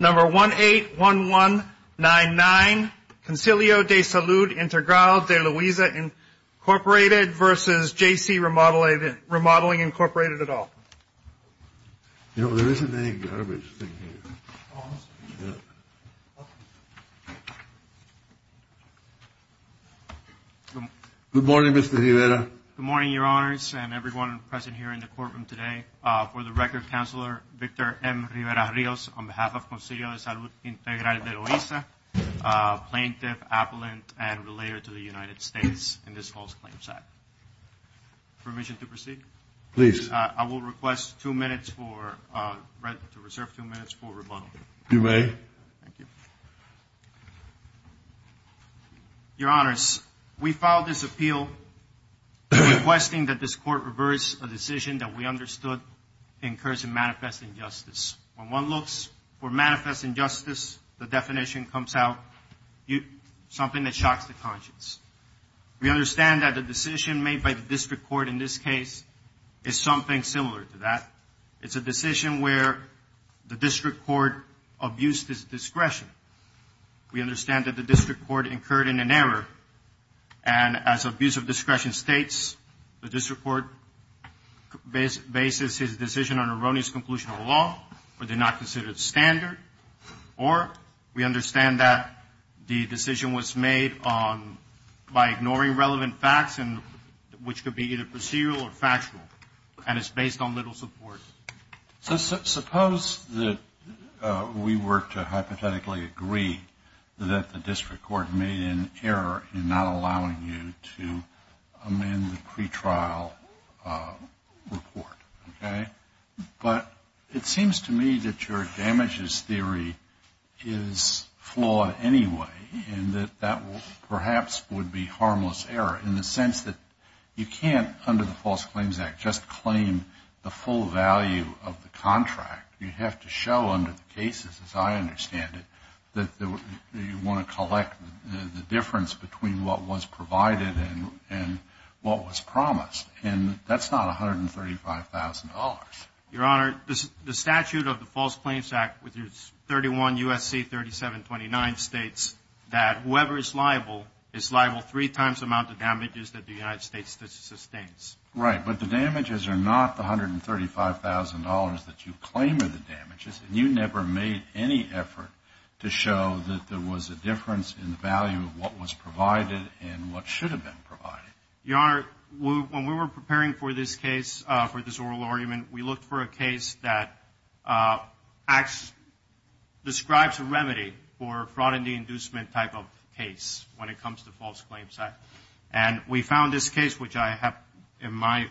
Number 181199, Concilio de Salud Integral de Luisa, Incorporated, v. JC Remodeling, Incorporated, et al. No, there isn't any garbage thing here. Good morning, Mr. Rivera. Good morning, Your Honors, and everyone present here in the courtroom today. For the record, Counselor Victor M. Rivera-Rios, on behalf of Concilio de Salud Integral de Luisa, Plaintiff, Appellant, and Relator to the United States in this false claim side. Permission to proceed? Please. I will request two minutes for – to reserve two minutes for rebuttal. You may. Thank you. Your Honors, we filed this appeal requesting that this Court reverse a decision that we understood incurs a manifest injustice. When one looks for manifest injustice, the definition comes out something that shocks the conscience. We understand that the decision made by the District Court in this case is something similar to that. It's a decision where the District Court abused its discretion. We understand that the District Court incurred an error, and as abuse of discretion states, the District Court bases its decision on erroneous conclusion of the law or did not consider it standard, or we understand that the decision was made by ignoring relevant facts, which could be either procedural or factual, and it's based on little support. So suppose that we were to hypothetically agree that the District Court made an error in not allowing you to amend the pretrial report, okay? But it seems to me that your damages theory is flawed anyway and that that perhaps would be harmless error in the sense that you can't, under the False Claims Act, just claim the full value of the contract. You have to show under the cases, as I understand it, that you want to collect the difference between what was provided and what was promised, and that's not $135,000. Your Honor, the statute of the False Claims Act, which is 31 U.S.C. 3729, states that whoever is liable is liable three times the amount of damages that the United States sustains. Right, but the damages are not the $135,000 that you claim are the damages, and you never made any effort to show that there was a difference in the value of what was provided and what should have been provided. Your Honor, when we were preparing for this case, for this oral argument, we looked for a case that describes a remedy for fraud and deinducement type of case when it comes to False Claims Act. And we found this case, which I have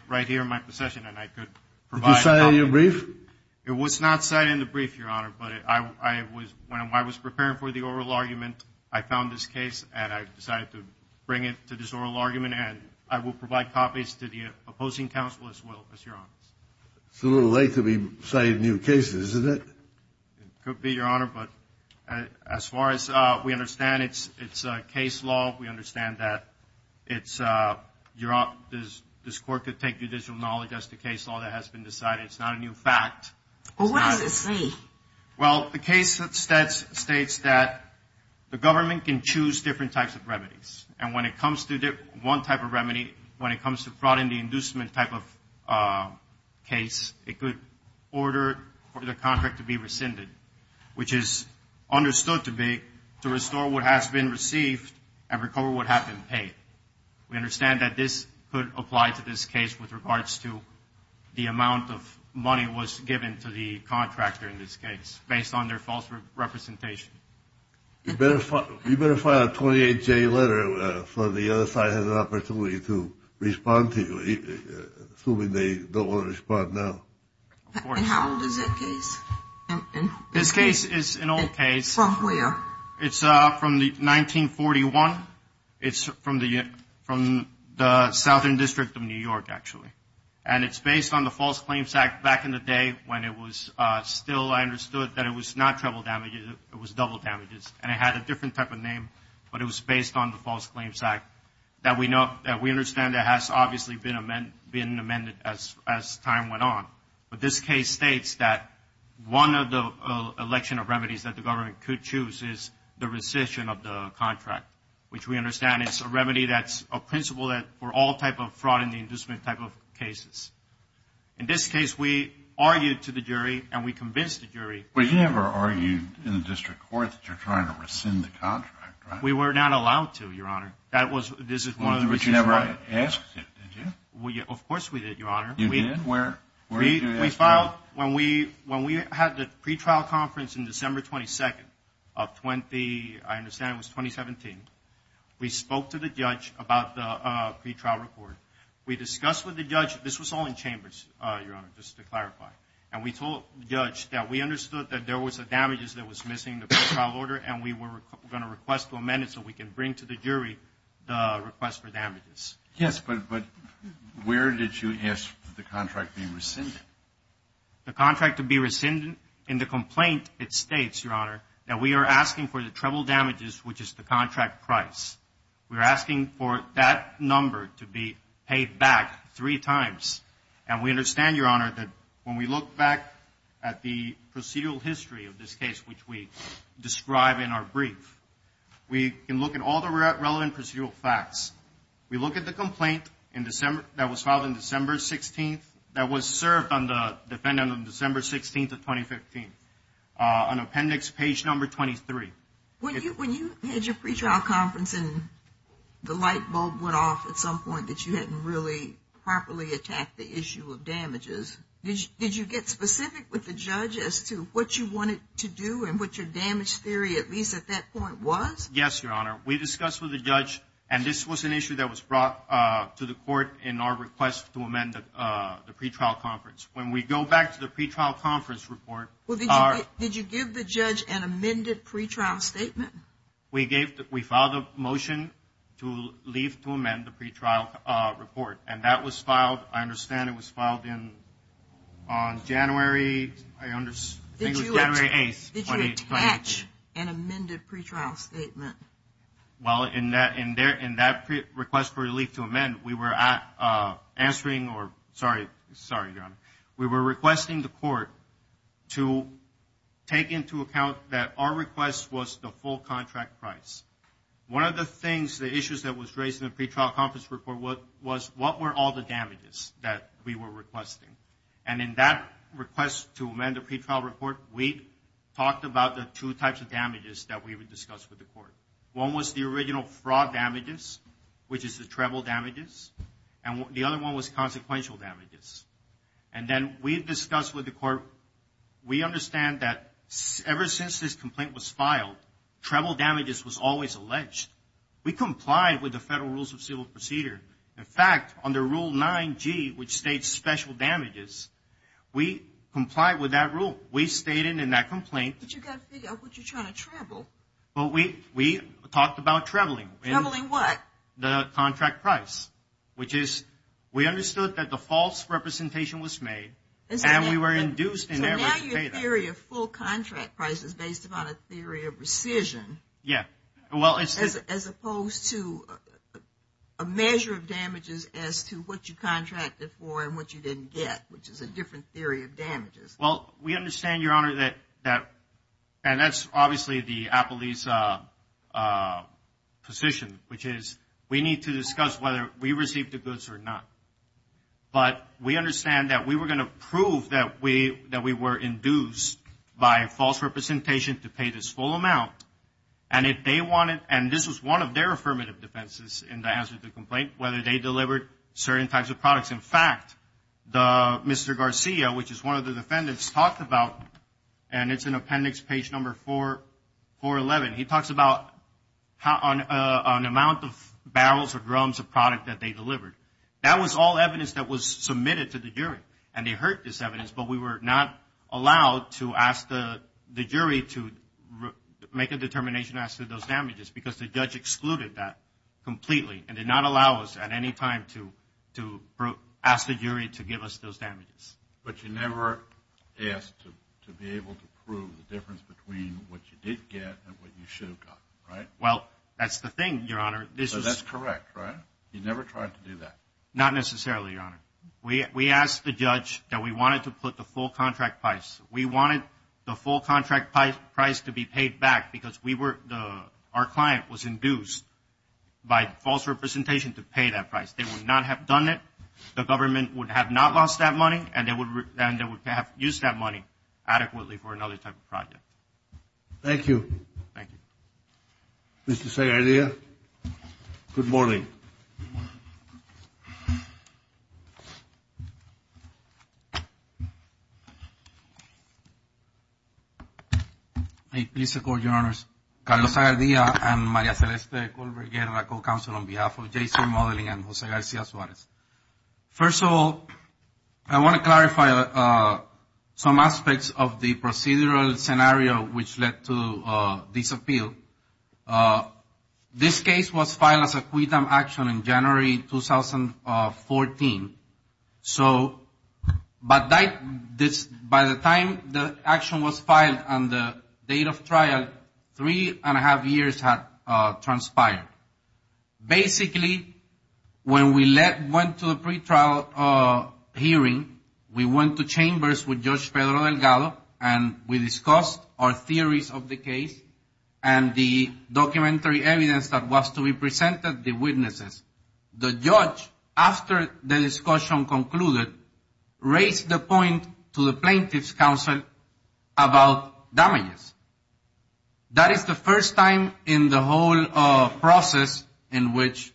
right here in my possession, and I could provide help. Did you cite it in your brief? It was not cited in the brief, Your Honor, but when I was preparing for the oral argument, I found this case, and I decided to bring it to this oral argument, and I will provide copies to the opposing counsel as well, as Your Honor. It's a little late to be citing new cases, isn't it? It could be, Your Honor, but as far as we understand, it's a case law. We understand that this Court could take judicial knowledge. That's the case law that has been decided. It's not a new fact. Well, what does it say? Well, the case states that the government can choose different types of remedies, and when it comes to one type of remedy, when it comes to fraud and deinducement type of case, it could order for the contract to be rescinded, which is understood to be to restore what has been received and recover what has been paid. We understand that this could apply to this case with regards to the amount of money that was given to the contractor in this case based on their false representation. You better file a 28-J letter so the other side has an opportunity to respond to you, assuming they don't want to respond now. And how old is that case? This case is an old case. From where? It's from 1941. It's from the Southern District of New York, actually, and it's based on the False Claims Act back in the day when it was still understood that it was not treble damages, it was double damages, and it had a different type of name, but it was based on the False Claims Act that we understand that has obviously been amended as time went on. But this case states that one of the election of remedies that the government could choose is the rescission of the contract, which we understand is a remedy that's a principle for all type of fraud in the inducement type of cases. In this case, we argued to the jury and we convinced the jury. But you never argued in the district court that you're trying to rescind the contract, right? We were not allowed to, Your Honor. But you never asked it, did you? Of course we did, Your Honor. You did? We filed, when we had the pretrial conference in December 22nd of 20, I understand it was 2017, we spoke to the judge about the pretrial report. We discussed with the judge, this was all in chambers, Your Honor, just to clarify, and we told the judge that we understood that there was a damages that was missing in the pretrial order and we were going to request to amend it so we can bring to the jury the request for damages. Yes, but where did you ask for the contract to be rescinded? The contract to be rescinded, in the complaint it states, Your Honor, that we are asking for the treble damages, which is the contract price. We are asking for that number to be paid back three times. And we understand, Your Honor, that when we look back at the procedural history of this case, which we describe in our brief, we can look at all the relevant procedural facts. We look at the complaint that was filed in December 16th that was served on the defendant on December 16th of 2015, on appendix page number 23. When you had your pretrial conference and the light bulb went off at some point that you hadn't really properly attacked the issue of damages, did you get specific with the judge as to what you wanted to do and what your damage theory, at least at that point, was? Yes, Your Honor. We discussed with the judge, and this was an issue that was brought to the court in our request to amend the pretrial conference. When we go back to the pretrial conference report. Did you give the judge an amended pretrial statement? We filed a motion to leave to amend the pretrial report, and that was filed. I understand it was filed on January 8th. Did you attach an amended pretrial statement? Well, in that request for relief to amend, we were answering or, sorry, Your Honor, we were requesting the court to take into account that our request was the full contract price. One of the things, the issues that was raised in the pretrial conference report was what were all the damages that we were requesting. And in that request to amend the pretrial report, we talked about the two types of damages that we would discuss with the court. One was the original fraud damages, which is the treble damages, and the other one was consequential damages. And then we discussed with the court, we understand that ever since this complaint was filed, treble damages was always alleged. We complied with the Federal Rules of Civil Procedure. In fact, under Rule 9G, which states special damages, we complied with that rule. We stayed in that complaint. But you've got to figure out what you're trying to treble. Well, we talked about trebling. Trebling what? The contract price, which is we understood that the false representation was made, and we were induced in there to pay that. So now your theory of full contract price is based upon a theory of rescission. Yeah. As opposed to a measure of damages as to what you contracted for and what you didn't get, which is a different theory of damages. Well, we understand, Your Honor, that that's obviously the appellee's position, which is we need to discuss whether we received the goods or not. But we understand that we were going to prove that we were induced by false representation to pay this full amount. And this was one of their affirmative defenses in the answer to the complaint, whether they delivered certain types of products. In fact, Mr. Garcia, which is one of the defendants, talked about, and it's in appendix page number 411, he talks about an amount of barrels or drums of product that they delivered. That was all evidence that was submitted to the jury. And they heard this evidence, but we were not allowed to ask the jury to make a determination as to those damages because the judge excluded that completely and did not allow us at any time to ask the jury to give us those damages. But you never asked to be able to prove the difference between what you did get and what you should have gotten, right? Well, that's the thing, Your Honor. So that's correct, right? You never tried to do that? Not necessarily, Your Honor. We asked the judge that we wanted to put the full contract price. We wanted the full contract price to be paid back because our client was induced by false representation to pay that price. They would not have done it. The government would have not lost that money, and they would have used that money adequately for another type of project. Thank you. Thank you. Mr. Zegarria, good morning. Please support, Your Honors. Carlos Zegarria and Maria Celeste Colbert-Guerra, co-counsel on behalf of Jason Modeling and Jose Garcia Suarez. First of all, I want to clarify some aspects of the procedural scenario which led to this appeal. This case was filed as a quit-and-action in January 2014. But by the time the action was filed and the date of trial, three and a half years had transpired. Basically, when we went to the pretrial hearing, we went to chambers with Judge Pedro Delgado, and we discussed our theories of the case and the documentary evidence that was to be presented, the witnesses. The judge, after the discussion concluded, raised the point to the plaintiff's counsel about damages. That is the first time in the whole process in which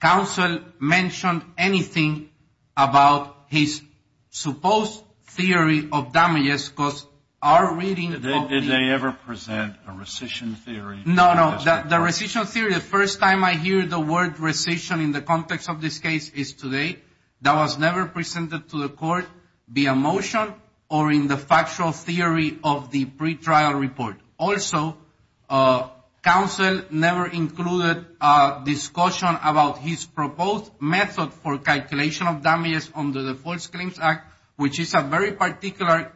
counsel mentioned anything about his supposed theory of damages. Did they ever present a rescission theory? No, no. The rescission theory, the first time I hear the word rescission in the context of this case is today. That was never presented to the court, be it a motion or in the factual theory of the pretrial report. Also, counsel never included discussion about his proposed method for calculation of damages under the False Claims Act, which is a very particular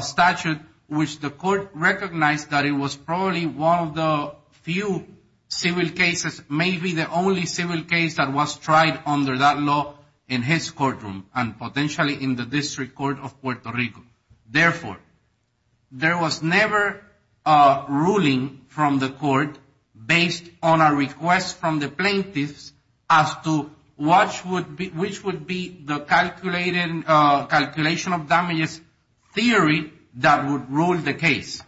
statute, which the court recognized that it was probably one of the few civil cases, maybe the only civil case that was tried under that law in his courtroom and potentially in the District Court of Puerto Rico. Therefore, there was never a ruling from the court based on a request from the plaintiffs as to which would be the calculation of damages theory that would rule the case.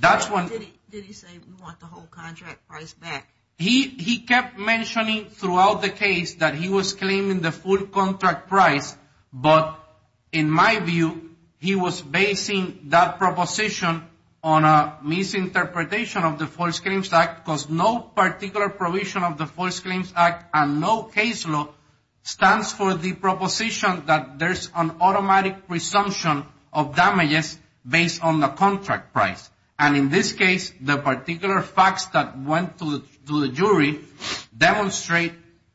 Did he say, we want the whole contract price back? He kept mentioning throughout the case that he was claiming the full contract price, but in my view, he was basing that proposition on a misinterpretation of the False Claims Act because no particular provision of the False Claims Act and no case law stands for the proposition that there's an automatic presumption of damages based on the contract price. And in this case, the particular facts that went to the jury demonstrate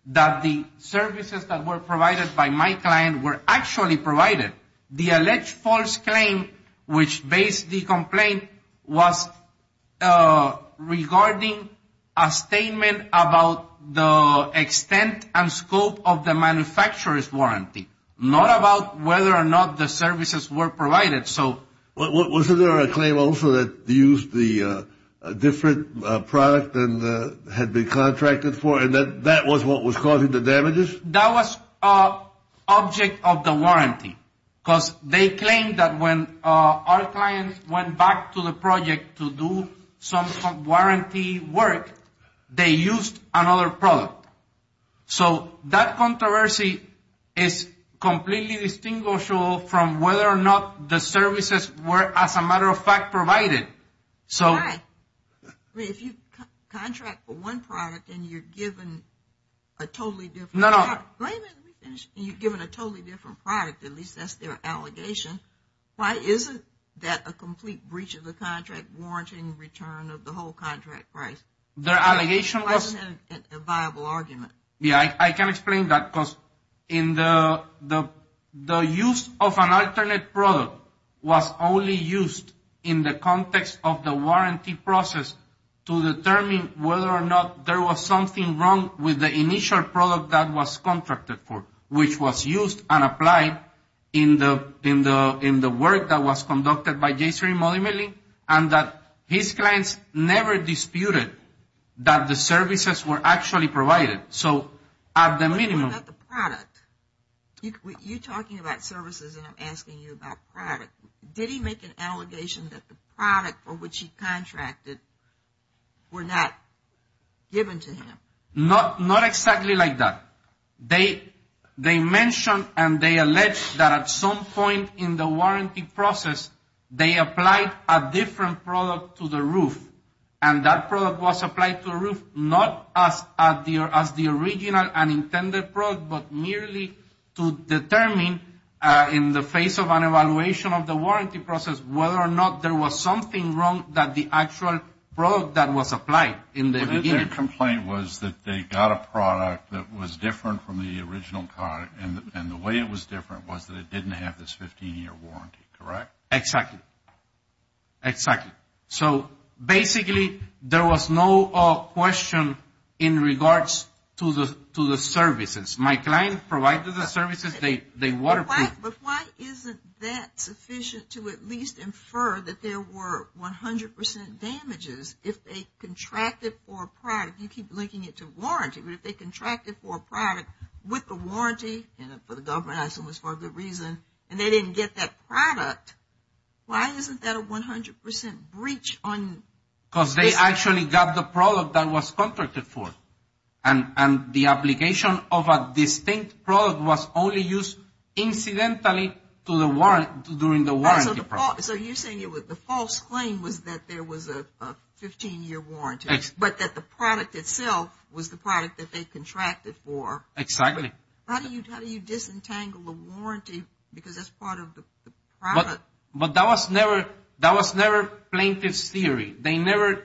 that the services that were provided by my client were actually provided. The alleged false claim, which based the complaint, was regarding a statement about the extent and scope of the manufacturer's warranty, not about whether or not the services were provided. Wasn't there a claim also that used a different product than had been contracted for and that that was what was causing the damages? That was object of the warranty because they claimed that when our client went back to the project to do some warranty work, they used another product. So that controversy is completely distinguishable from whether or not the services were, as a matter of fact, provided. Right. I mean, if you contract for one product and you're given a totally different product. No, no. Wait a minute. Let me finish. You're given a totally different product. At least that's their allegation. Why isn't that a complete breach of the contract warranty and return of the whole contract price? Why isn't that a viable argument? Yeah, I can explain that because the use of an alternate product was only used in the context of the warranty process to determine whether or not there was something wrong with the initial product that was contracted for, which was used and applied in the work that was conducted by J-Stream Multimillion and that his clients never disputed that the services were actually provided. So at the minimum. What about the product? You're talking about services and I'm asking you about product. Did he make an allegation that the product for which he contracted were not given to him? Not exactly like that. They mentioned and they alleged that at some point in the warranty process, they applied a different product to the roof. And that product was applied to a roof not as the original and intended product, but merely to determine in the face of an evaluation of the warranty process whether or not there was something wrong that the actual product that was applied in the beginning. Their complaint was that they got a product that was different from the original product and the way it was different was that it didn't have this 15-year warranty, correct? Exactly. Exactly. So basically there was no question in regards to the services. My client provided the services. They waterproofed. But why isn't that sufficient to at least infer that there were 100 percent damages if they contracted for a product? You keep linking it to warranty. But if they contracted for a product with a warranty, and for the government I assume it's for a good reason, and they didn't get that product, why isn't that a 100 percent breach on this? Because they actually got the product that it was contracted for. And the application of a distinct product was only used incidentally during the warranty process. So you're saying the false claim was that there was a 15-year warranty, but that the product itself was the product that they contracted for. Exactly. How do you disentangle a warranty because that's part of the product? But that was never plaintiff's theory. They never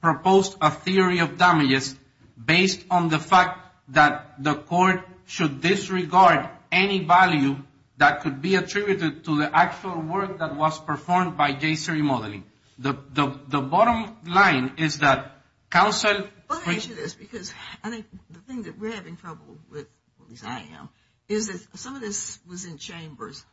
proposed a theory of damages based on the fact that the court should disregard any value that could be attributed to the actual work that was performed by J-SERI modeling. The bottom line is that counsel- Let me ask you this, because I think the thing that we're having trouble with, at least I am, is that some of this was in chambers.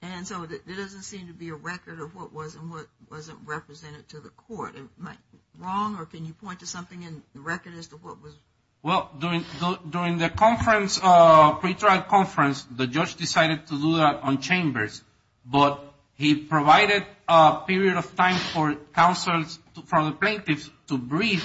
And so there doesn't seem to be a record of what was and what wasn't represented to the court. Am I wrong, or can you point to something in the record as to what was- Well, during the pre-trial conference, the judge decided to do that on chambers, but he provided a period of time for the plaintiffs to brief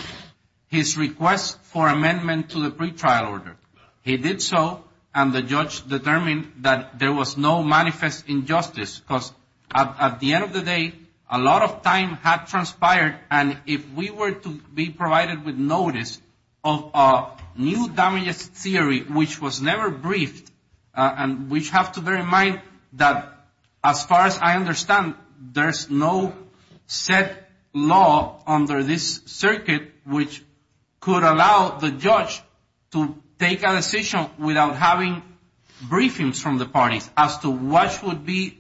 his request for amendment to the pre-trial order. He did so, and the judge determined that there was no manifest injustice, because at the end of the day, a lot of time had transpired, and if we were to be provided with notice of a new damages theory, which was never briefed, and we have to bear in mind that as far as I understand, there's no set law under this circuit which could allow the judge to take a decision without having briefings from the parties as to what would be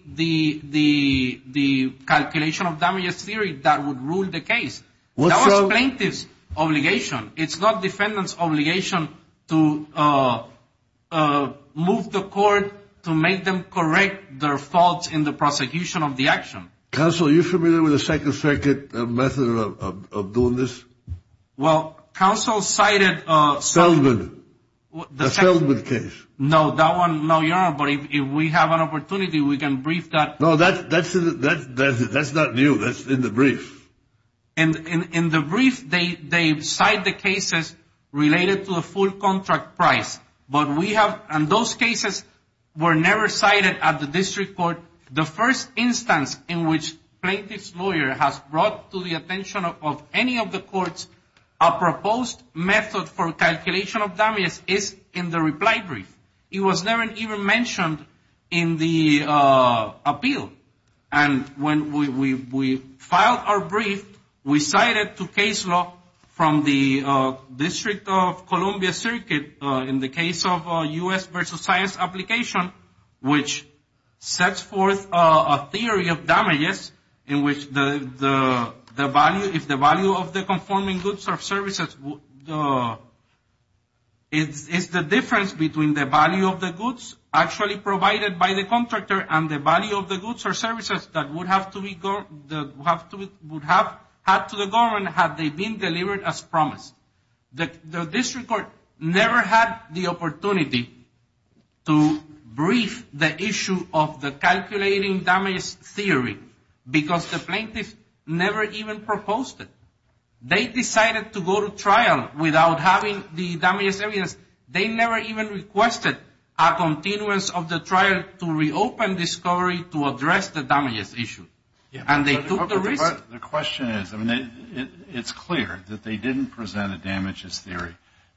the calculation of damages theory that would rule the case. That was plaintiff's obligation. It's not defendant's obligation to move the court to make them correct their faults in the prosecution of the action. Counsel, are you familiar with the Second Circuit method of doing this? Well, counsel cited- Feldman. The Feldman case. No, that one, no, Your Honor, but if we have an opportunity, we can brief that. No, that's not new. That's in the brief. In the brief, they cite the cases related to a full contract price, but we have-and those cases were never cited at the district court. The first instance in which plaintiff's lawyer has brought to the attention of any of the courts a proposed method for calculation of damages is in the reply brief. It was never even mentioned in the appeal, and when we filed our brief, we cited to case law from the District of Columbia Circuit in the case of U.S. versus science application, which sets forth a theory of damages in which the value-if the value of the conforming goods or services is the difference between the value of the goods actually provided by the contractor and the value of the goods or services that would have to be-would have had to the government had they been delivered as promised. The district court never had the opportunity to brief the issue of the calculating damage theory because the plaintiff never even proposed it. They decided to go to trial without having the damages evidence. They never even requested a continuance of the trial to reopen discovery to address the damages issue, and they took the risk. The question is, I mean, it's clear that they didn't present a damages theory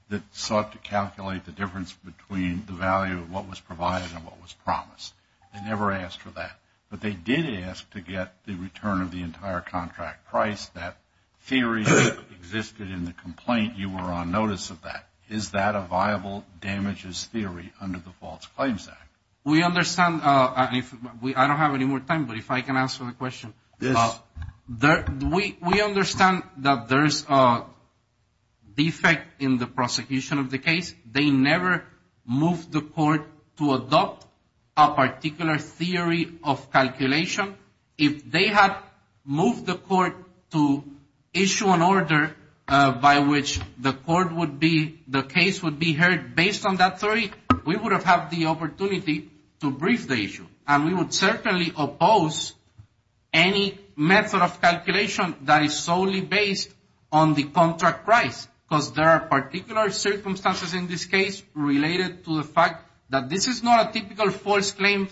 that sought to calculate the difference between the value of what was provided and what was promised. They never asked for that, but they did ask to get the return of the entire contract price. That theory existed in the complaint. You were on notice of that. Is that a viable damages theory under the False Claims Act? We understand-I don't have any more time, but if I can answer the question. Yes. We understand that there's a defect in the prosecution of the case. They never moved the court to adopt a particular theory of calculation. If they had moved the court to issue an order by which the court would be-the case would be heard based on that theory, we would have had the opportunity to brief the issue, and we would certainly oppose any method of calculation that is solely based on the contract price, because there are particular circumstances in this case related to the fact that this is not a typical false claim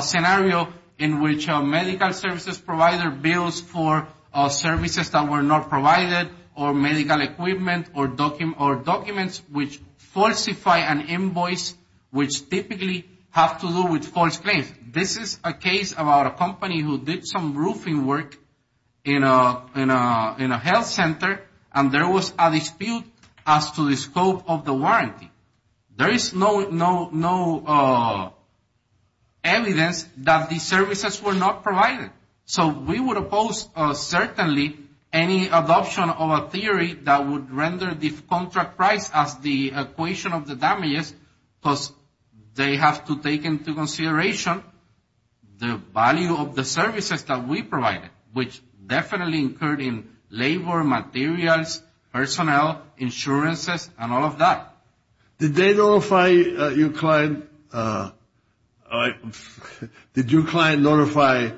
scenario in which a medical services provider bills for services that were not provided or medical equipment or documents which falsify an invoice which typically have to do with false claims. This is a case about a company who did some roofing work in a health center, and there was a dispute as to the scope of the warranty. There is no evidence that the services were not provided. So we would oppose certainly any adoption of a theory that would render the contract price as the equation of the damages, because they have to take into consideration the value of the services that we provided, which definitely occurred in labor, materials, personnel, insurances, and all of that. Did they notify your client-did your client notify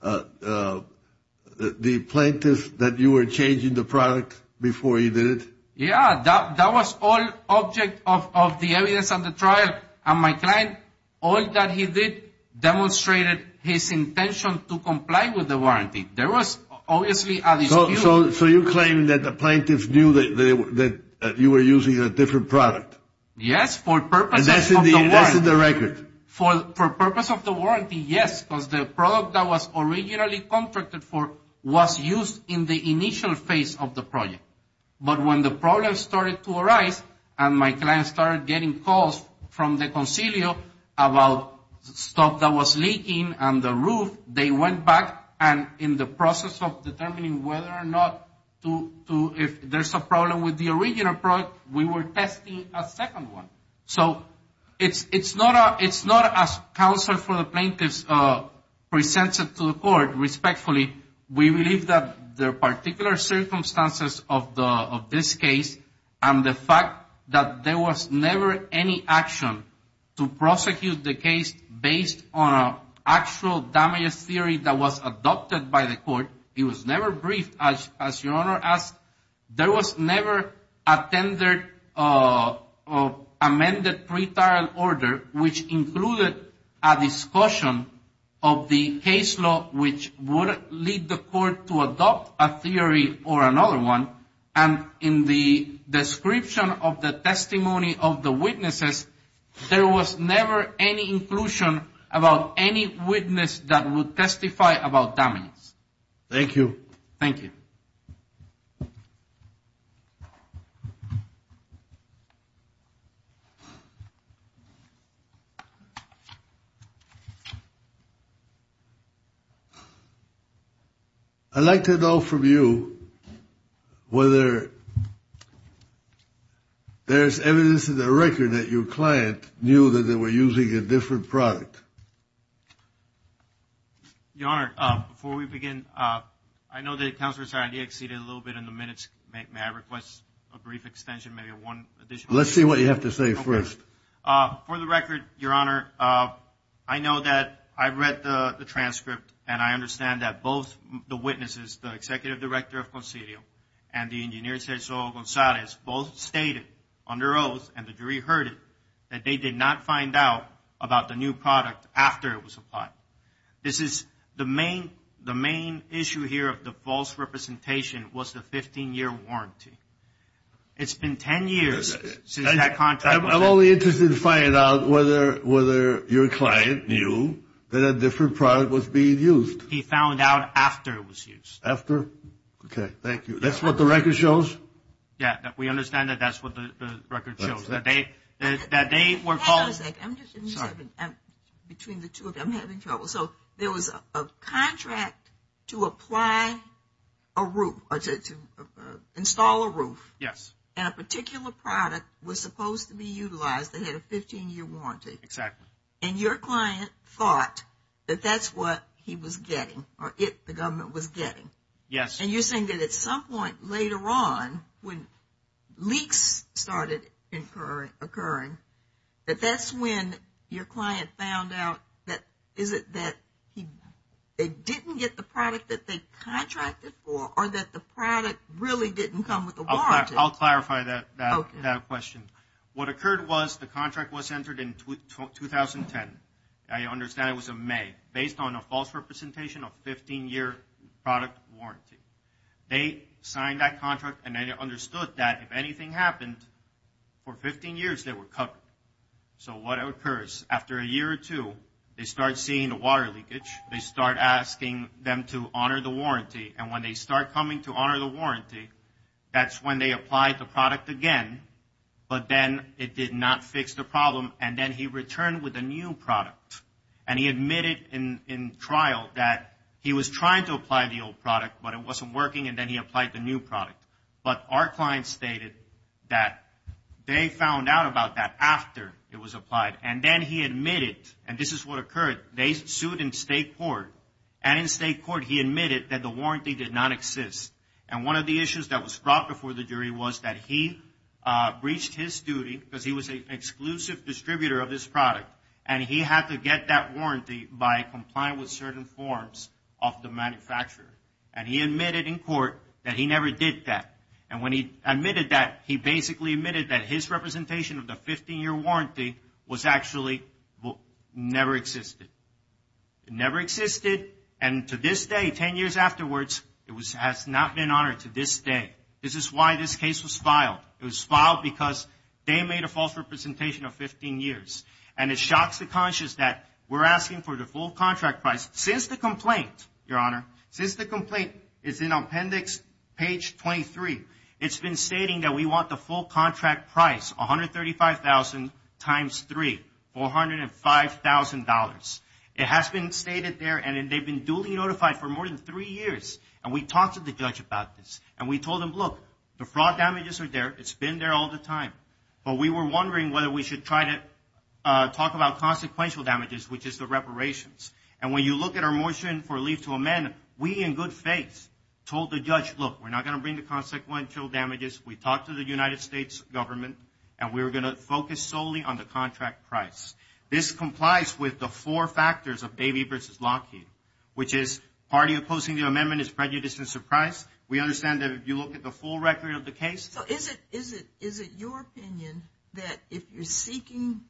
the plaintiff that you were changing the product before he did it? Yeah. That was all object of the evidence on the trial, and my client, all that he did, demonstrated his intention to comply with the warranty. There was obviously a dispute. So you claim that the plaintiff knew that you were using a different product. Yes, for purposes of the warranty. And that's in the record. For purposes of the warranty, yes, because the product that was originally contracted for was used in the initial phase of the project. But when the problem started to arise and my client started getting calls from the concilio about stuff that was leaking on the roof, they went back, and in the process of determining whether or not to, if there's a problem with the original product, we were testing a second one. So it's not as counsel for the plaintiff presents it to the court respectfully. We believe that the particular circumstances of this case and the fact that there was never any action to prosecute the case based on an actual damage theory that was adopted by the court. It was never briefed, as your Honor asked. There was never a tendered or amended pretrial order which included a discussion of the case law which would lead the court to adopt a theory or another one. And in the description of the testimony of the witnesses, there was never any inclusion about any witness that would testify about damage. Thank you. I'd like to know from you whether there's evidence in the record that your client knew that they were using a different product. Your Honor, before we begin, I know that Counselor Sarandi exceeded a little bit in the minutes. May I request a brief extension, maybe one additional? Let's see what you have to say first. For the record, your Honor, I know that I read the transcript, and I understand that both the witnesses, the executive director of concilio, and the engineer Cesar Gonzalez, both stated under oath, and the jury heard it, that they did not find out about the new product after it was applied. This is the main issue here of the false representation was the 15-year warranty. It's been 10 years since that contract was signed. I'm only interested to find out whether your client knew that a different product was being used. He found out after it was used. After? Okay, thank you. That's what the record shows? Yeah, we understand that that's what the record shows. Hang on a second. Between the two of them, I'm having trouble. So there was a contract to apply a roof, to install a roof. Yes. And a particular product was supposed to be utilized. They had a 15-year warranty. Exactly. And your client thought that that's what he was getting, or the government was getting. Yes. And you're saying that at some point later on, when leaks started occurring, that that's when your client found out that they didn't get the product that they contracted for, or that the product really didn't come with a warranty. I'll clarify that question. What occurred was the contract was entered in 2010. I understand it was in May, based on a false representation of 15-year product warranty. They signed that contract, and they understood that if anything happened, for 15 years they were covered. So what occurs? After a year or two, they start seeing the water leakage. They start asking them to honor the warranty, and when they start coming to honor the warranty, that's when they apply the product again, but then it did not fix the problem, and then he returned with a new product, and he admitted in trial that he was trying to apply the old product, but it wasn't working, and then he applied the new product. But our client stated that they found out about that after it was applied, and then he admitted, and this is what occurred. They sued in state court, and in state court he admitted that the warranty did not exist. And one of the issues that was brought before the jury was that he breached his duty, because he was an exclusive distributor of this product, and he had to get that warranty by complying with certain forms of the manufacturer. And he admitted in court that he never did that, and when he admitted that, he basically admitted that his representation of the 15-year warranty was actually never existed. It never existed, and to this day, 10 years afterwards, it has not been honored to this day. This is why this case was filed. It was filed because they made a false representation of 15 years, and it shocks the conscience that we're asking for the full contract price. Since the complaint, Your Honor, since the complaint is in appendix page 23, it's been stating that we want the full contract price, $135,000 times 3, $405,000. It has been stated there, and they've been duly notified for more than 3 years, and we talked to the judge about this, and we told him, look, the fraud damages are there. It's been there all the time, but we were wondering whether we should try to talk about consequential damages, which is the reparations, and when you look at our motion for leave to amend, we in good faith told the judge, look, we're not going to bring the consequential damages. We talked to the United States government, and we were going to focus solely on the contract price. This complies with the four factors of Baby v. Lockheed, which is party opposing the amendment is prejudiced in surprise. We understand that if you look at the full record of the case. So is it your opinion that if you're seeking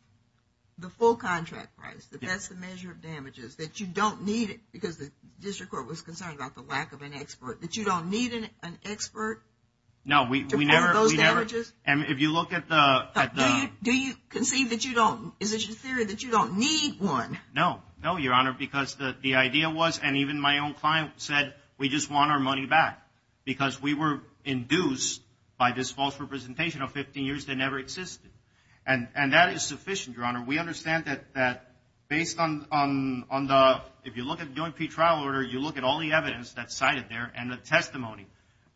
the full contract price, that that's the measure of damages, that you don't need it, because the district court was concerned about the lack of an expert, that you don't need an expert to report those damages? No, we never, and if you look at the… Do you conceive that you don't, is it your theory that you don't need one? No, no, Your Honor, because the idea was, and even my own client said, we just want our money back because we were induced by this false representation of 15 years that never existed. And that is sufficient, Your Honor. We understand that based on the, if you look at the joint pre-trial order, you look at all the evidence that's cited there and the testimony,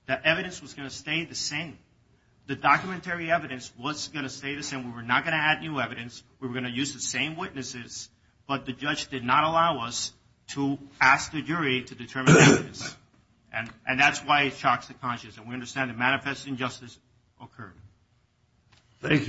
the evidence was going to stay the same. The documentary evidence was going to stay the same. We were not going to add new evidence. We were going to use the same witnesses, but the judge did not allow us to ask the jury to determine the witness. And that's why it shocks the conscience. And we understand that manifest injustice occurred. Thank you.